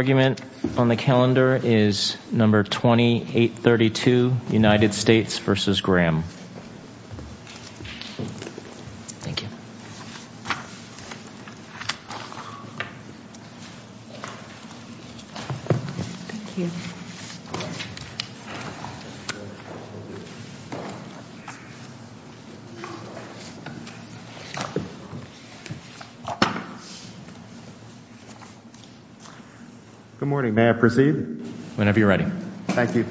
The argument on the calendar is number 2832, United States v. Graham. Good morning. May I proceed? Whenever you're ready. Thank you.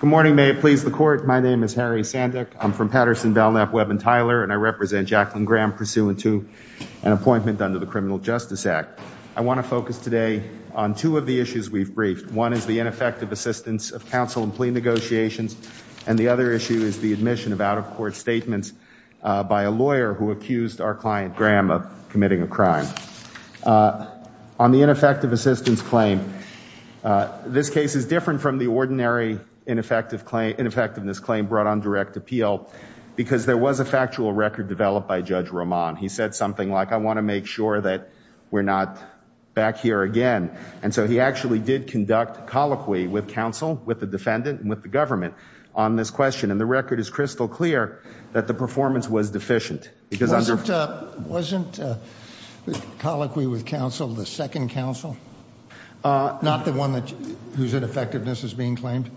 Good morning. May it please the court. My name is Harry Sandick. I'm from Patterson, Belknap, Webb, and Tyler, and I represent Jacqueline Graham pursuant to an appointment under the Criminal Justice Act. I want to focus today on two of the issues we've briefed. One is the ineffective assistance of counsel in plea negotiations, and the other issue is the admission of out-of-court statements by a lawyer who accused our client, Graham, of committing a crime. On the ineffective assistance claim, this case is different from the ordinary ineffectiveness claim brought on direct appeal because there was a factual record developed by Judge Roman. He said something like, I want to make sure that we're not back here again, and so he actually did conduct colloquy with counsel, with the defendant, and with the government on this question, and the record is crystal clear that the performance was deficient. Wasn't colloquy with counsel the second counsel, not the one whose ineffectiveness is being claimed?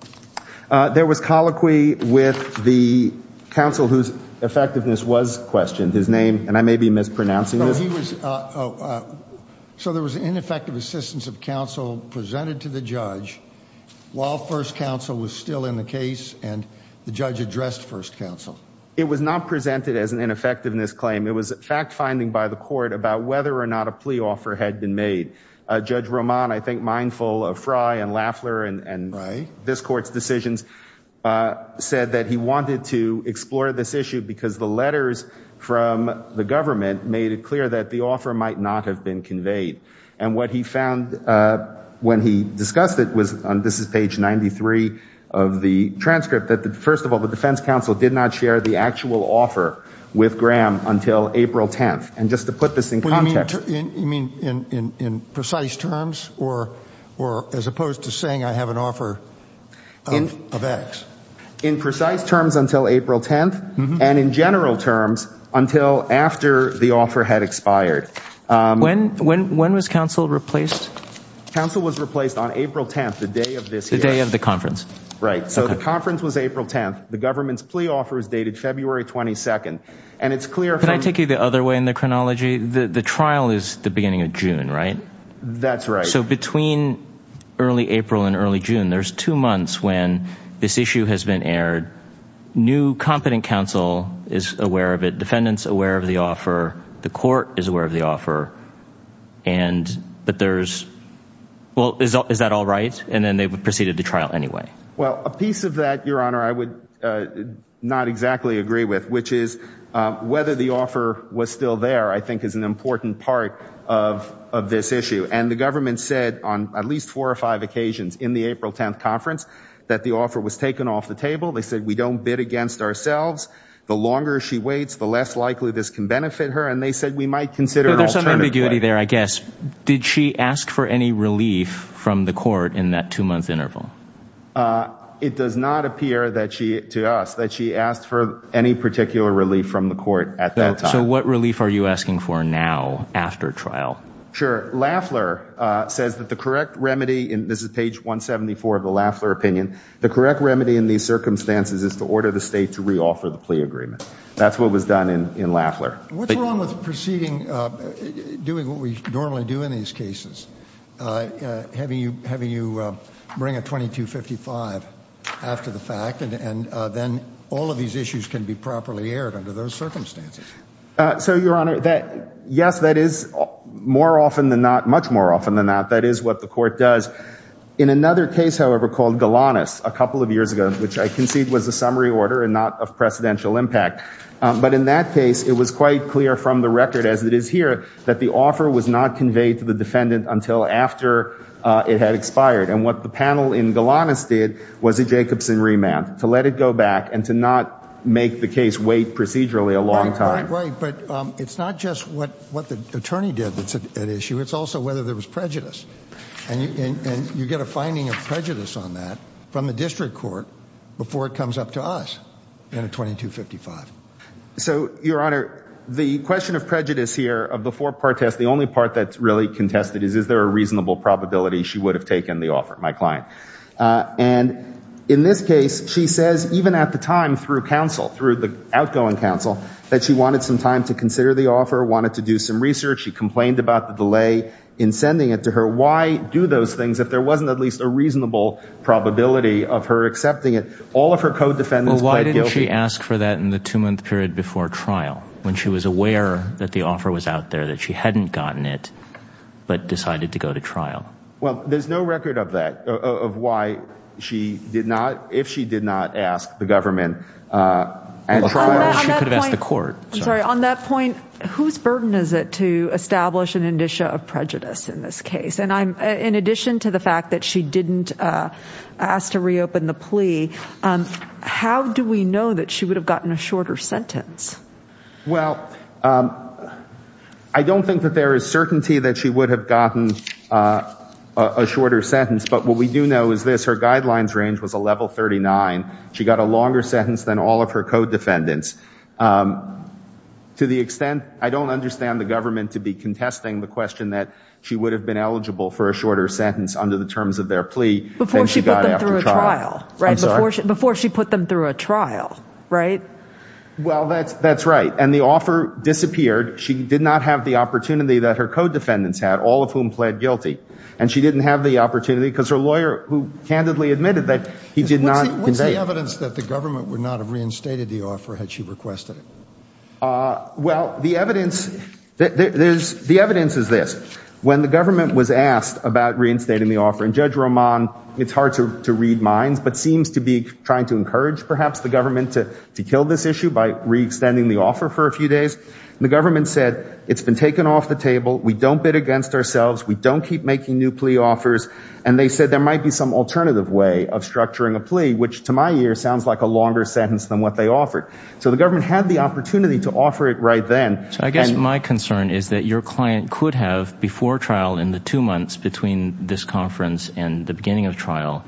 There was colloquy with the counsel whose effectiveness was questioned. His name, and I may be mispronouncing this. So there was ineffective assistance of counsel presented to the judge while first counsel was still in the case, and the judge addressed first counsel. It was not presented as an ineffectiveness claim. It was fact-finding by the court about whether or not a plea offer had been made. Judge Roman, I think mindful of Frye and Laffler and this court's decisions, said that he wanted to explore this issue because the letters from the government made it clear that the offer might not have been conveyed. And what he found when he discussed it was, and this is page 93 of the transcript, that first of all, the defense counsel did not share the actual offer with Graham until April 10th. And just to put this in context. You mean in precise terms or as opposed to saying I have an offer of X? In precise terms until April 10th, and in general terms until after the offer had expired. When was counsel replaced? Counsel was replaced on April 10th, the day of this hearing. The day of the conference. Right. So the conference was April 10th. The government's plea offer was dated February 22nd. Can I take you the other way in the chronology? The trial is the beginning of June, right? That's right. So between early April and early June, there's two months when this issue has been aired. New competent counsel is aware of it. Defendants aware of the offer. The court is aware of the offer. And but there's. Well, is that all right? And then they proceeded to trial anyway. Well, a piece of that, Your Honor, I would not exactly agree with, which is whether the offer was still there, I think is an important part of this issue. And the government said on at least four or five occasions in the April 10th conference that the offer was taken off the table. They said we don't bid against ourselves. The longer she waits, the less likely this can benefit her. And they said we might consider some ambiguity there, I guess. Did she ask for any relief from the court in that two month interval? It does not appear that she to us that she asked for any particular relief from the court at that time. So what relief are you asking for now after trial? Sure. Lafleur says that the correct remedy in this is page 174 of the Lafleur opinion. The correct remedy in these circumstances is to order the state to reoffer the plea agreement. That's what was done in Lafleur. What's wrong with proceeding, doing what we normally do in these cases? Having you having you bring a 2255 after the fact and then all of these issues can be properly aired under those circumstances. So, Your Honor, yes, that is more often than not, much more often than not, that is what the court does. In another case, however, called Galanis a couple of years ago, which I concede was a summary order and not of precedential impact. But in that case, it was quite clear from the record as it is here that the offer was not conveyed to the defendant until after it had expired. And what the panel in Galanis did was a Jacobson remand to let it go back and to not make the case wait procedurally a long time. Right. But it's not just what what the attorney did that's at issue. It's also whether there was prejudice. And you get a finding of prejudice on that from the district court before it comes up to us in a 2255. So, Your Honor, the question of prejudice here of the four part test, the only part that's really contested is, is there a reasonable probability she would have taken the offer? My client. And in this case, she says even at the time through counsel, through the outgoing counsel, that she wanted some time to consider the offer, wanted to do some research. She complained about the delay in sending it to her. Why do those things if there wasn't at least a reasonable probability of her accepting it? All of her code defendants. Why did she ask for that in the two month period before trial? When she was aware that the offer was out there, that she hadn't gotten it, but decided to go to trial? Well, there's no record of that, of why she did not, if she did not ask the government at trial, she could have asked the court. Sorry. On that point, whose burden is it to establish an indicia of prejudice in this case? And I'm in addition to the fact that she didn't ask to reopen the plea. How do we know that she would have gotten a shorter sentence? Well, I don't think that there is certainty that she would have gotten a shorter sentence. But what we do know is this, her guidelines range was a level 39. She got a longer sentence than all of her code defendants. To the extent, I don't understand the government to be contesting the question that she would have been eligible for a shorter sentence under the terms of their plea. Before she put them through a trial, right? I'm sorry? Before she put them through a trial, right? Well, that's right. And the offer disappeared. She did not have the opportunity that her code defendants had, all of whom pled guilty. And she didn't have the opportunity because her lawyer, who candidly admitted that he did not convey. What's the evidence that the government would not have reinstated the offer had she requested it? Well, the evidence is this. When the government was asked about reinstating the offer, and Judge Roman, it's hard to read minds, but seems to be trying to encourage perhaps the government to kill this issue by re-extending the offer for a few days. The government said, it's been taken off the table. We don't bid against ourselves. We don't keep making new plea offers. And they said there might be some alternative way of structuring a plea, which to my ear sounds like a longer sentence than what they offered. So the government had the opportunity to offer it right then. So I guess my concern is that your client could have, before trial in the two months between this conference and the beginning of trial,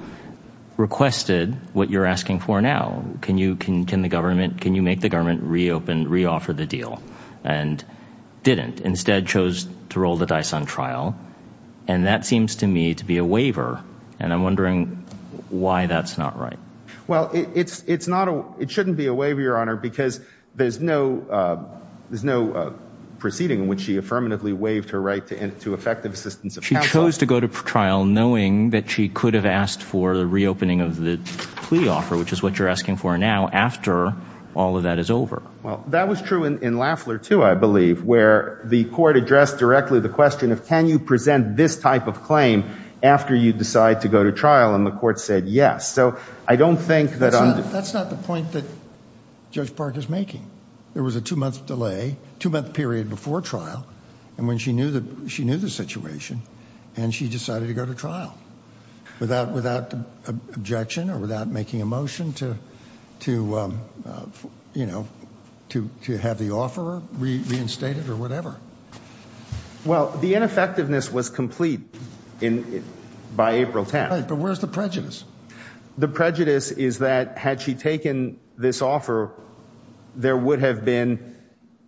requested what you're asking for now. Can you make the government re-open, re-offer the deal? And didn't. Instead chose to roll the dice on trial. And that seems to me to be a waiver. And I'm wondering why that's not right. Well, it shouldn't be a waiver, Your Honor, because there's no proceeding in which she affirmatively waived her right to effective assistance of counsel. She chose to go to trial knowing that she could have asked for the re-opening of the plea offer, which is what you're asking for now, after all of that is over. Well, that was true in Lafler, too, I believe, where the court addressed directly the question of can you present this type of claim after you decide to go to trial? And the court said yes. So I don't think that I'm. That's not the point that Judge Park is making. There was a two-month delay, two-month period before trial, and when she knew the situation, and she decided to go to trial without objection or without making a motion to have the offeror reinstated or whatever. Well, the ineffectiveness was complete by April 10th. But where's the prejudice? The prejudice is that had she taken this offer, there would have been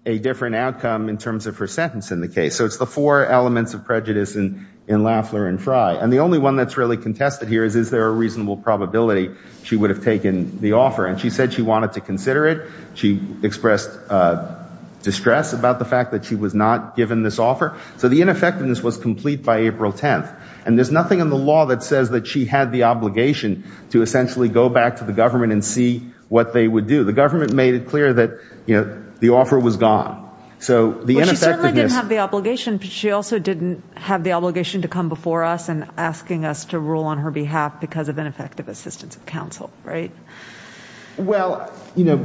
a different outcome in terms of her sentence in the case. So it's the four elements of prejudice in Lafler and Frye. And the only one that's really contested here is is there a reasonable probability she would have taken the offer? And she said she wanted to consider it. She expressed distress about the fact that she was not given this offer. So the ineffectiveness was complete by April 10th. And there's nothing in the law that says that she had the obligation to essentially go back to the government and see what they would do. The government made it clear that, you know, the offer was gone. So the ineffectiveness. Well, she certainly didn't have the obligation, but she also didn't have the obligation to come before us and asking us to rule on her behalf because of ineffective assistance of counsel, right? Well, you know,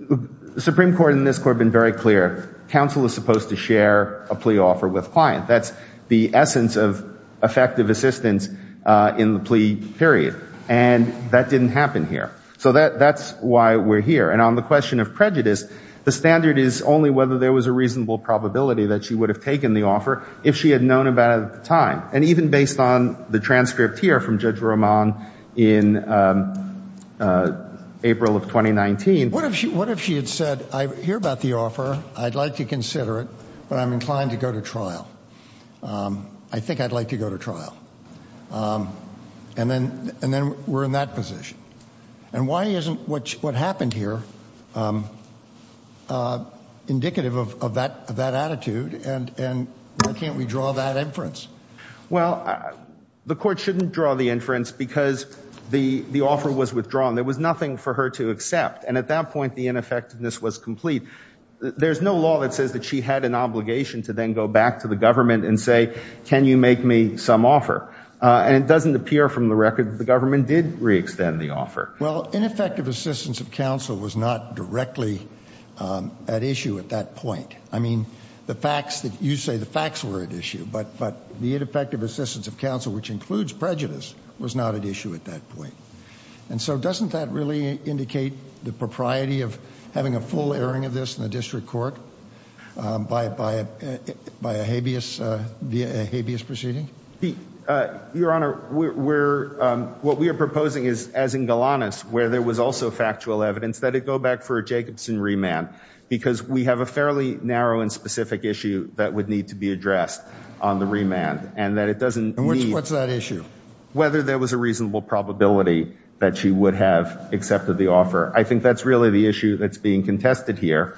the Supreme Court and this court have been very clear. Counsel is supposed to share a plea offer with client. That's the essence of effective assistance in the plea period. And that didn't happen here. So that's why we're here. And on the question of prejudice, the standard is only whether there was a reasonable probability that she would have taken the offer if she had known about it at the time. And even based on the transcript here from Judge Roman in April of 2019. What if she what if she had said, I hear about the offer. I'd like to consider it, but I'm inclined to go to trial. I think I'd like to go to trial. And then and then we're in that position. And why isn't what what happened here indicative of that of that attitude? And why can't we draw that inference? Well, the court shouldn't draw the inference because the offer was withdrawn. There was nothing for her to accept. And at that point, the ineffectiveness was complete. There's no law that says that she had an obligation to then go back to the government and say, can you make me some offer? And it doesn't appear from the record the government did re-extend the offer. Well, ineffective assistance of counsel was not directly at issue at that point. I mean, the facts that you say the facts were at issue. But but the ineffective assistance of counsel, which includes prejudice, was not at issue at that point. And so doesn't that really indicate the propriety of having a full airing of this in the district court by by by a habeas, a habeas proceeding? Your Honor, we're what we are proposing is, as in Golanus, where there was also factual evidence that it go back for Jacobson remand, because we have a fairly narrow and specific issue that would need to be addressed on the remand and that it doesn't. What's that issue? Whether there was a reasonable probability that she would have accepted the offer. I think that's really the issue that's being contested here.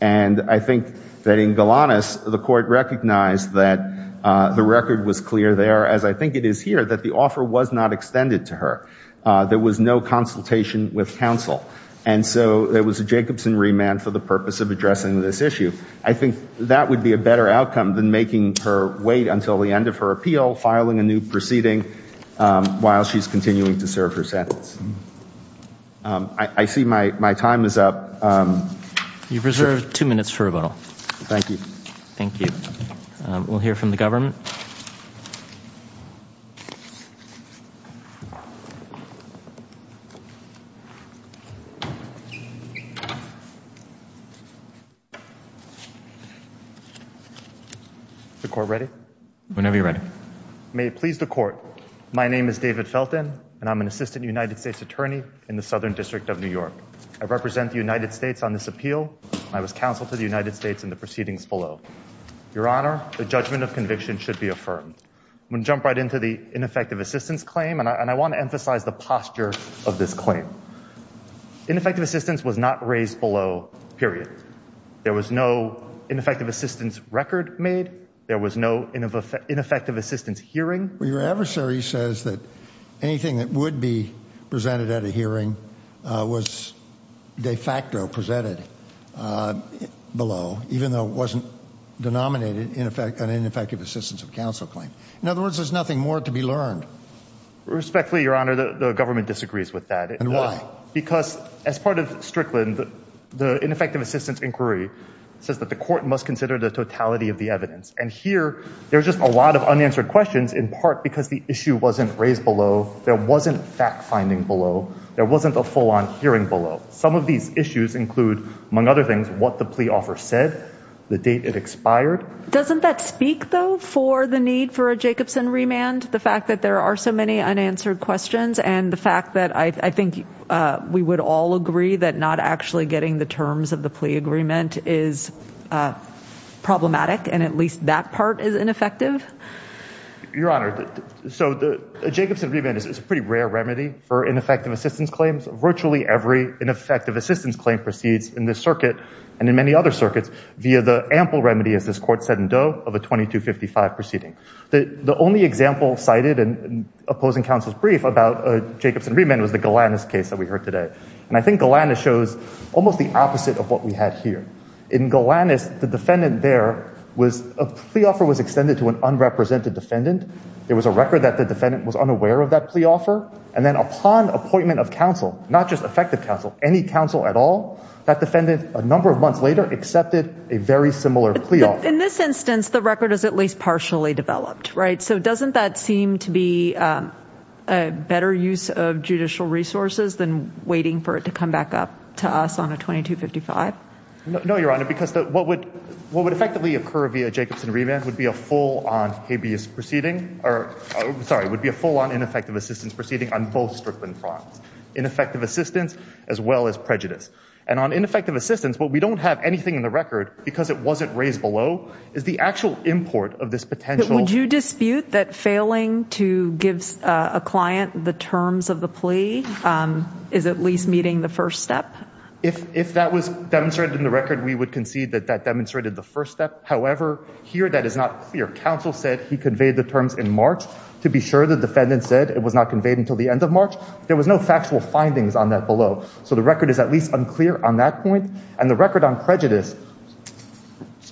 And I think that in Golanus, the court recognized that the record was clear there, as I think it is here, that the offer was not extended to her. There was no consultation with counsel. And so there was a Jacobson remand for the purpose of addressing this issue. I think that would be a better outcome than making her wait until the end of her appeal, filing a new proceeding while she's continuing to serve her sentence. I see my my time is up. You've reserved two minutes for rebuttal. Thank you. Thank you. We'll hear from the government. The court ready whenever you're ready. May it please the court. My name is David Felton and I'm an assistant United States attorney in the Southern District of New York. I represent the United States on this appeal. I was counsel to the United States in the proceedings below. Your Honor, the judgment of conviction should be affirmed when jump right into the ineffective assistance claim. And I want to emphasize the posture of this claim. Ineffective assistance was not raised below. Period. There was no ineffective assistance record made. There was no ineffective assistance hearing. Your adversary says that anything that would be presented at a hearing was de facto presented below, even though it wasn't denominated in effect an ineffective assistance of counsel claim. In other words, there's nothing more to be learned. Respectfully, Your Honor, the government disagrees with that. Because as part of Strickland, the ineffective assistance inquiry says that the court must consider the totality of the evidence. And here there's just a lot of unanswered questions, in part because the issue wasn't raised below. There wasn't fact finding below. There wasn't a full on hearing below. Some of these issues include, among other things, what the plea offer said, the date it expired. Doesn't that speak, though, for the need for a Jacobson remand? The fact that there are so many unanswered questions and the fact that I think we would all agree that not actually getting the terms of the plea agreement is problematic. And at least that part is ineffective. Your Honor. So the Jacobson remand is a pretty rare remedy for ineffective assistance claims. Virtually every ineffective assistance claim proceeds in this circuit and in many other circuits via the ample remedy, as this court said in Doe, of a 2255 proceeding. The only example cited in opposing counsel's brief about Jacobson remand was the Galanis case that we heard today. And I think Galanis shows almost the opposite of what we had here. In Galanis, the defendant there was a plea offer was extended to an unrepresented defendant. There was a record that the defendant was unaware of that plea offer. And then upon appointment of counsel, not just effective counsel, any counsel at all, that defendant, a number of months later, accepted a very similar plea offer. But in this instance, the record is at least partially developed, right? So doesn't that seem to be a better use of judicial resources than waiting for it to come back up to us on a 2255? No, Your Honor, because what would what would effectively occur via Jacobson remand would be a full on habeas proceeding or sorry, would be a full on ineffective assistance proceeding on both Strickland fronts. Ineffective assistance as well as prejudice. And on ineffective assistance. But we don't have anything in the record because it wasn't raised below is the actual import of this potential. Would you dispute that failing to give a client the terms of the plea is at least meeting the first step? If if that was demonstrated in the record, we would concede that that demonstrated the first step. However, here that is not clear. Counsel said he conveyed the terms in March to be sure. The defendant said it was not conveyed until the end of March. There was no factual findings on that below. So the record is at least unclear on that point. And the record on prejudice,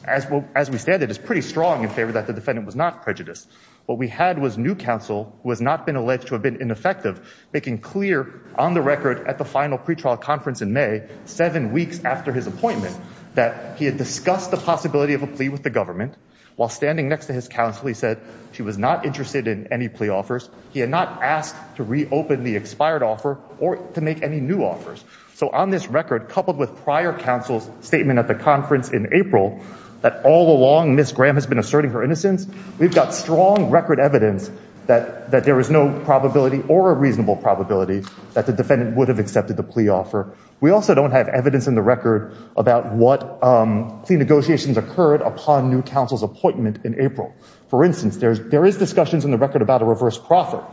as well as we stand, it is pretty strong in favor that the defendant was not prejudiced. What we had was new counsel was not been alleged to have been ineffective, making clear on the record at the final pretrial conference in May, seven weeks after his appointment, that he had discussed the possibility of a plea with the government. While standing next to his counsel, he said she was not interested in any plea offers. He had not asked to reopen the expired offer or to make any new offers. So on this record, coupled with prior counsel's statement at the conference in April that all along, Miss Graham has been asserting her innocence. We've got strong record evidence that that there is no probability or a reasonable probability that the defendant would have accepted the plea offer. We also don't have evidence in the record about what the negotiations occurred upon new counsel's appointment in April. For instance, there is discussions in the record about a reverse proffer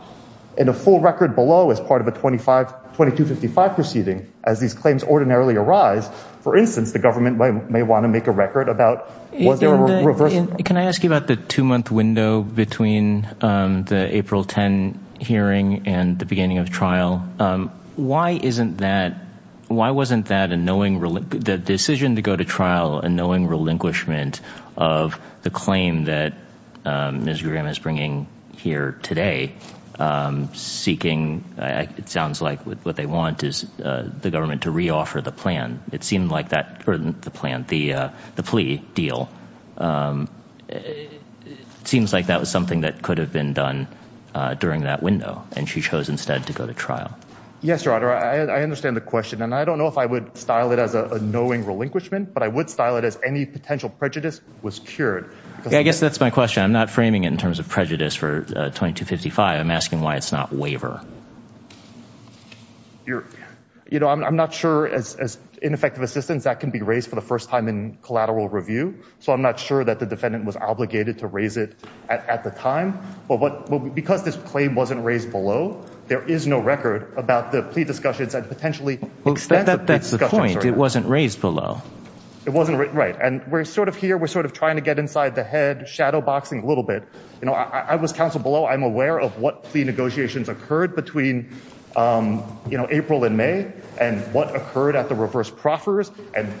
and a full record below as part of a 2255 proceeding. As these claims ordinarily arise, for instance, the government may want to make a record about what they were reversing. Can I ask you about the two-month window between the April 10 hearing and the beginning of trial? Why isn't that – why wasn't that a knowing – the decision to go to trial a knowing relinquishment of the claim that Miss Graham is bringing here today, seeking – it sounds like what they want is the government to reoffer the plan. It seemed like that – or the plan – the plea deal. It seems like that was something that could have been done during that window, and she chose instead to go to trial. Yes, Your Honor, I understand the question, and I don't know if I would style it as a knowing relinquishment, but I would style it as any potential prejudice was cured. I guess that's my question. I'm not framing it in terms of prejudice for 2255. I'm asking why it's not waiver. I'm not sure, as ineffective assistance, that can be raised for the first time in collateral review, so I'm not sure that the defendant was obligated to raise it at the time. But because this claim wasn't raised below, there is no record about the plea discussions that potentially – That's the point. It wasn't raised below. It wasn't – right. And we're sort of here. We're sort of trying to get inside the head, shadowboxing a little bit. I was counsel below. I'm aware of what plea negotiations occurred between April and May and what occurred at the reverse proffers and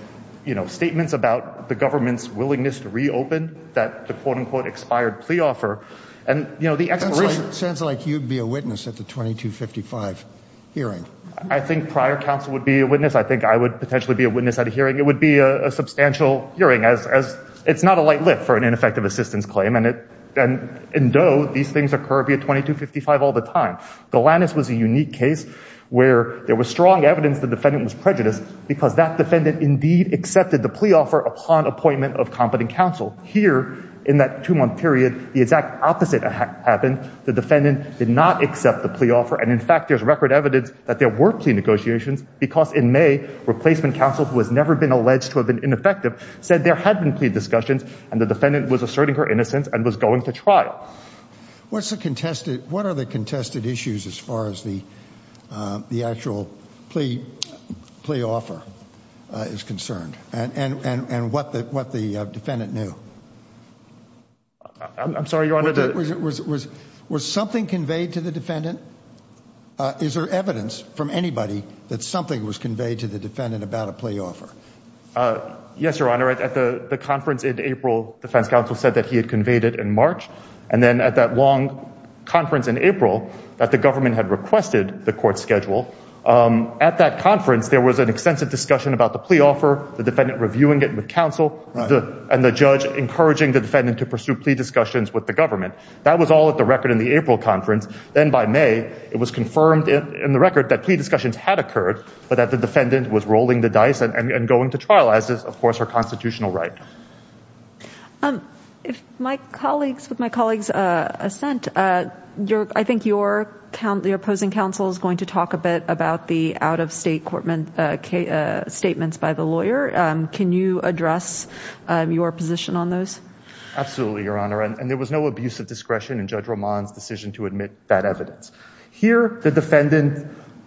statements about the government's willingness to reopen that the quote-unquote expired plea offer. It sounds like you'd be a witness at the 2255 hearing. I think prior counsel would be a witness. I think I would potentially be a witness at a hearing. It would be a substantial hearing. It's not a light lift for an ineffective assistance claim. And in Doe, these things occur via 2255 all the time. Golanis was a unique case where there was strong evidence the defendant was prejudiced because that defendant indeed accepted the plea offer upon appointment of competent counsel. Here, in that two-month period, the exact opposite happened. The defendant did not accept the plea offer, and in fact there's record evidence that there were plea negotiations because in May, replacement counsel, who has never been alleged to have been ineffective, said there had been plea discussions and the defendant was asserting her innocence and was going to trial. What are the contested issues as far as the actual plea offer is concerned and what the defendant knew? I'm sorry, Your Honor. Was something conveyed to the defendant? Is there evidence from anybody that something was conveyed to the defendant about a plea offer? Yes, Your Honor. At the conference in April, defense counsel said that he had conveyed it in March. And then at that long conference in April that the government had requested the court schedule, at that conference there was an extensive discussion about the plea offer, the defendant reviewing it with counsel, and the judge encouraging the defendant to pursue plea discussions with the government. That was all at the record in the April conference. Then by May, it was confirmed in the record that plea discussions had occurred, but that the defendant was rolling the dice and going to trial as is, of course, her constitutional right. With my colleague's assent, I think your opposing counsel is going to talk a bit about the out-of-state statements by the lawyer. Can you address your position on those? Absolutely, Your Honor. And there was no abuse of discretion in Judge Roman's decision to admit that evidence. Here, the defendant's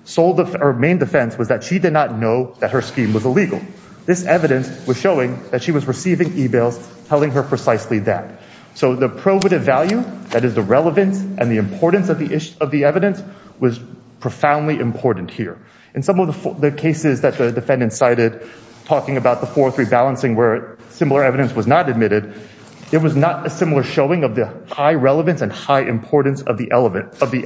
sole or main defense was that she did not know that her scheme was illegal. This evidence was showing that she was receiving e-mails telling her precisely that. So the probative value, that is the relevance and the importance of the evidence, was profoundly important here. In some of the cases that the defendant cited, talking about the 403 balancing where similar evidence was not admitted, it was not a similar showing of the high relevance and high importance of the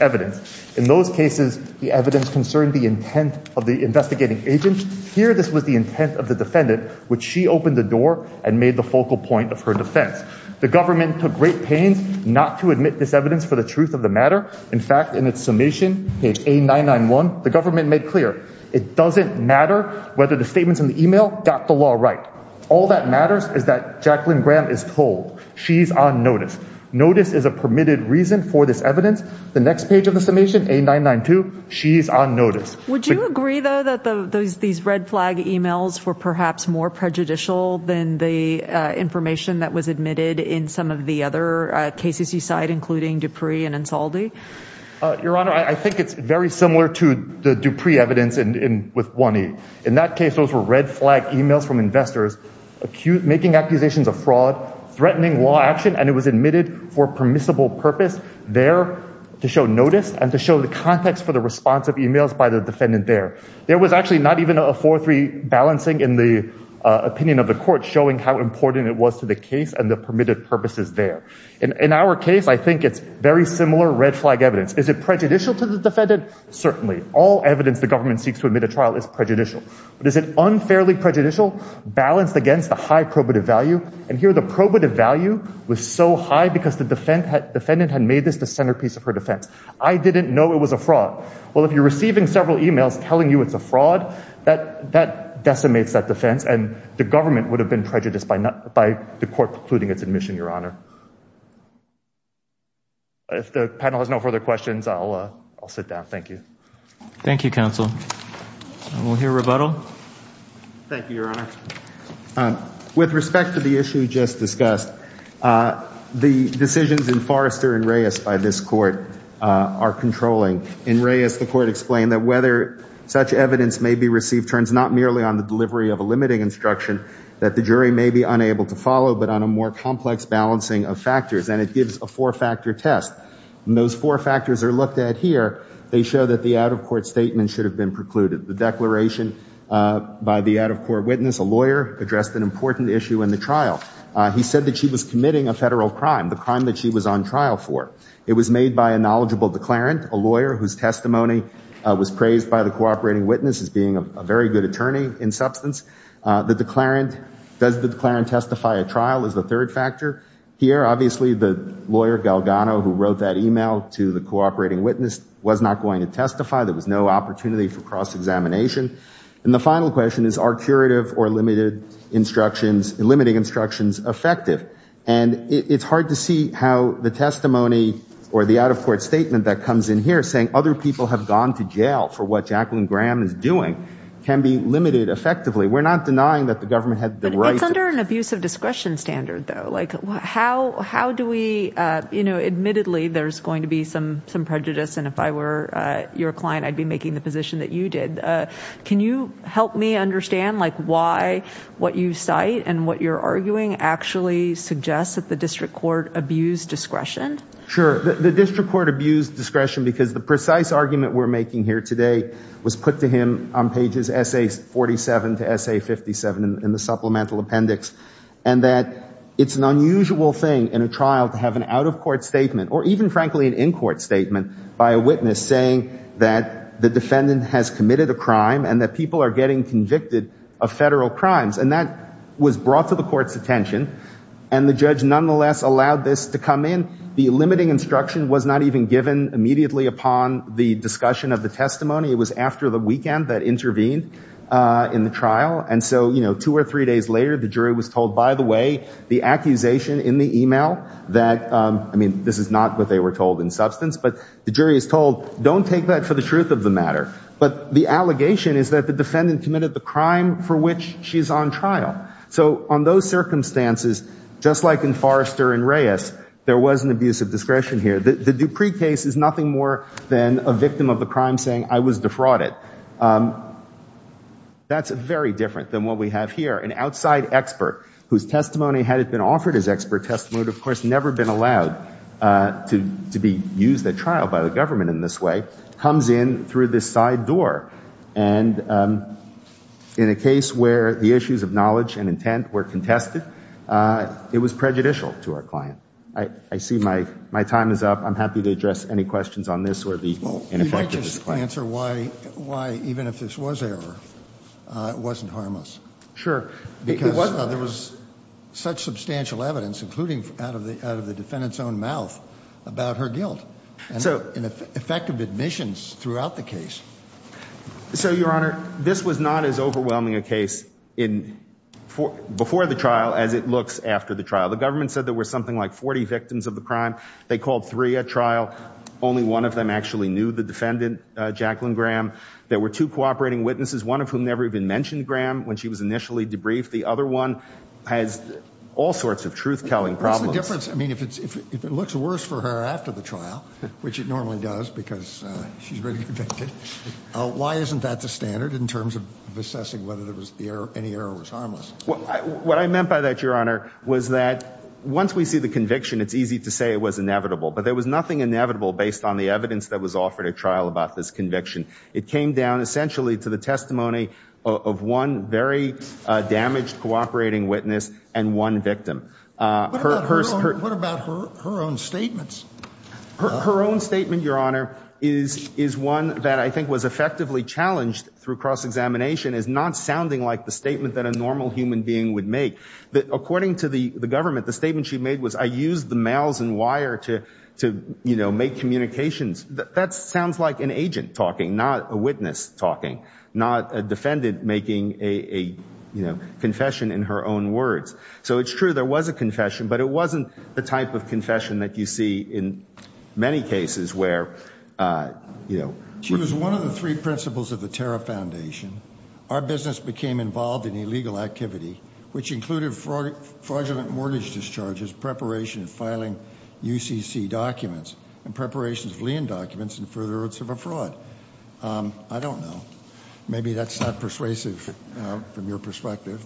evidence. In those cases, the evidence concerned the intent of the investigating agent. Here, this was the intent of the defendant, which she opened the door and made the focal point of her defense. The government took great pains not to admit this evidence for the truth of the matter. In fact, in its summation, page A991, the government made clear, it doesn't matter whether the statements in the e-mail got the law right. All that matters is that Jacqueline Graham is told. She's on notice. Notice is a permitted reason for this evidence. The next page of the summation, A992, she's on notice. Would you agree, though, that these red flag e-mails were perhaps more prejudicial than the information that was admitted in some of the other cases you cite, including Dupree and Insaldi? Your Honor, I think it's very similar to the Dupree evidence with 1E. In that case, those were red flag e-mails from investors making accusations of fraud, threatening law action, and it was admitted for permissible purpose there to show notice and to show the context for the response of e-mails by the defendant there. There was actually not even a 4-3 balancing in the opinion of the court showing how important it was to the case and the permitted purposes there. In our case, I think it's very similar red flag evidence. Is it prejudicial to the defendant? Certainly. All evidence the government seeks to admit a trial is prejudicial. But is it unfairly prejudicial? Balanced against the high probative value, and here the probative value was so high because the defendant had made this the centerpiece of her defense. I didn't know it was a fraud. Well, if you're receiving several e-mails telling you it's a fraud, that decimates that defense, and the government would have been prejudiced by the court precluding its admission, Your Honor. If the panel has no further questions, I'll sit down. Thank you. Thank you, counsel. We'll hear rebuttal. Thank you, Your Honor. With respect to the issue just discussed, the decisions in Forrester and Reyes by this court are controlling. In Reyes, the court explained that whether such evidence may be received turns not merely on the delivery of a limiting instruction that the jury may be unable to follow, but on a more complex balancing of factors, and it gives a four-factor test. And those four factors are looked at here. They show that the out-of-court statement should have been precluded. The declaration by the out-of-court witness, a lawyer, addressed an important issue in the trial. He said that she was committing a federal crime, the crime that she was on trial for. It was made by a knowledgeable declarant, a lawyer whose testimony was praised by the cooperating witness as being a very good attorney in substance. The declarant, does the declarant testify at trial is the third factor. Here, obviously, the lawyer, Galgano, who wrote that e-mail to the cooperating witness, was not going to testify. There was no opportunity for cross-examination. And the final question is, are curative or limiting instructions effective? And it's hard to see how the testimony or the out-of-court statement that comes in here saying other people have gone to jail for what Jacqueline Graham is doing can be limited effectively. We're not denying that the government had the right. But it's under an abuse of discretion standard, though. Like, how do we, you know, admittedly, there's going to be some prejudice, and if I were your client, I'd be making the position that you did. Can you help me understand, like, why what you cite and what you're arguing actually suggests that the district court abused discretion? Sure. The district court abused discretion because the precise argument we're making here today was put to him on pages SA-47 to SA-57 in the supplemental appendix, and that it's an unusual thing in a trial to have an out-of-court statement or even, frankly, an in-court statement by a witness saying that the defendant has committed a crime and that people are getting convicted of federal crimes. And that was brought to the court's attention, and the judge nonetheless allowed this to come in. The limiting instruction was not even given immediately upon the discussion of the testimony. It was after the weekend that intervened in the trial. And so, you know, two or three days later, the jury was told, by the way, the accusation in the e-mail that, I mean, this is not what they were told in substance, but the jury is told, don't take that for the truth of the matter. But the allegation is that the defendant committed the crime for which she's on trial. So on those circumstances, just like in Forrester and Reyes, there was an abuse of discretion here. The Dupree case is nothing more than a victim of a crime saying, I was defrauded. That's very different than what we have here. An outside expert whose testimony, had it been offered as expert testimony, of course, never been allowed to be used at trial by the government in this way, comes in through this side door. And in a case where the issues of knowledge and intent were contested, it was prejudicial to our client. I see my time is up. I'm happy to address any questions on this or the ineffectiveness of this claim. Let me answer why even if this was error, it wasn't harmless. Sure. Because there was such substantial evidence, including out of the defendant's own mouth, about her guilt. And effective admissions throughout the case. So, Your Honor, this was not as overwhelming a case before the trial as it looks after the trial. The government said there were something like 40 victims of the crime. They called three at trial. Only one of them actually knew the defendant, Jacqueline Graham. There were two cooperating witnesses, one of whom never even mentioned Graham when she was initially debriefed. The other one has all sorts of truth-telling problems. What's the difference? I mean, if it looks worse for her after the trial, which it normally does because she's already convicted, why isn't that the standard in terms of assessing whether any error was harmless? What I meant by that, Your Honor, was that once we see the conviction, it's easy to say it was inevitable. But there was nothing inevitable based on the evidence that was offered at trial about this conviction. It came down essentially to the testimony of one very damaged cooperating witness and one victim. What about her own statements? Her own statement, Your Honor, is one that I think was effectively challenged through cross-examination as not sounding like the statement that a normal human being would make. According to the government, the statement she made was, I used the mails and wire to make communications. That sounds like an agent talking, not a witness talking, not a defendant making a confession in her own words. So it's true there was a confession, but it wasn't the type of confession that you see in many cases where, you know. She was one of the three principals of the Terra Foundation. Our business became involved in illegal activity, which included fraudulent mortgage discharges, preparation of filing UCC documents, and preparation of lien documents in furtherance of a fraud. I don't know. Maybe that's not persuasive from your perspective.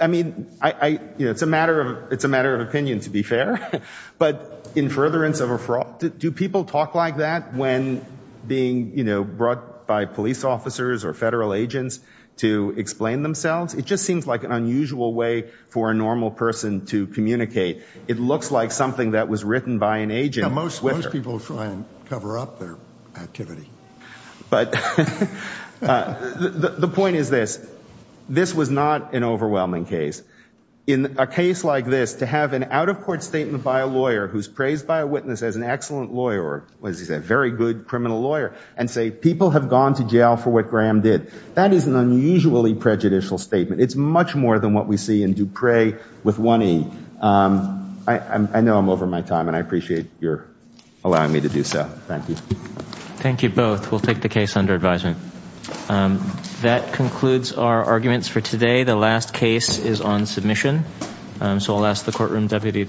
I mean, it's a matter of opinion, to be fair. But in furtherance of a fraud, do people talk like that when being, you know, brought by police officers or federal agents to explain themselves? It just seems like an unusual way for a normal person to communicate. It looks like something that was written by an agent. Most people try and cover up their activity. But the point is this. This was not an overwhelming case. In a case like this, to have an out-of-court statement by a lawyer who's praised by a witness as an excellent lawyer, or what does he say, a very good criminal lawyer, and say people have gone to jail for what Graham did, that is an unusually prejudicial statement. It's much more than what we see in Dupre with one E. I know I'm over my time, and I appreciate your allowing me to do so. Thank you. Thank you both. We'll take the case under advisement. That concludes our arguments for today. The last case is on submission, so I'll ask the courtroom deputy to adjourn.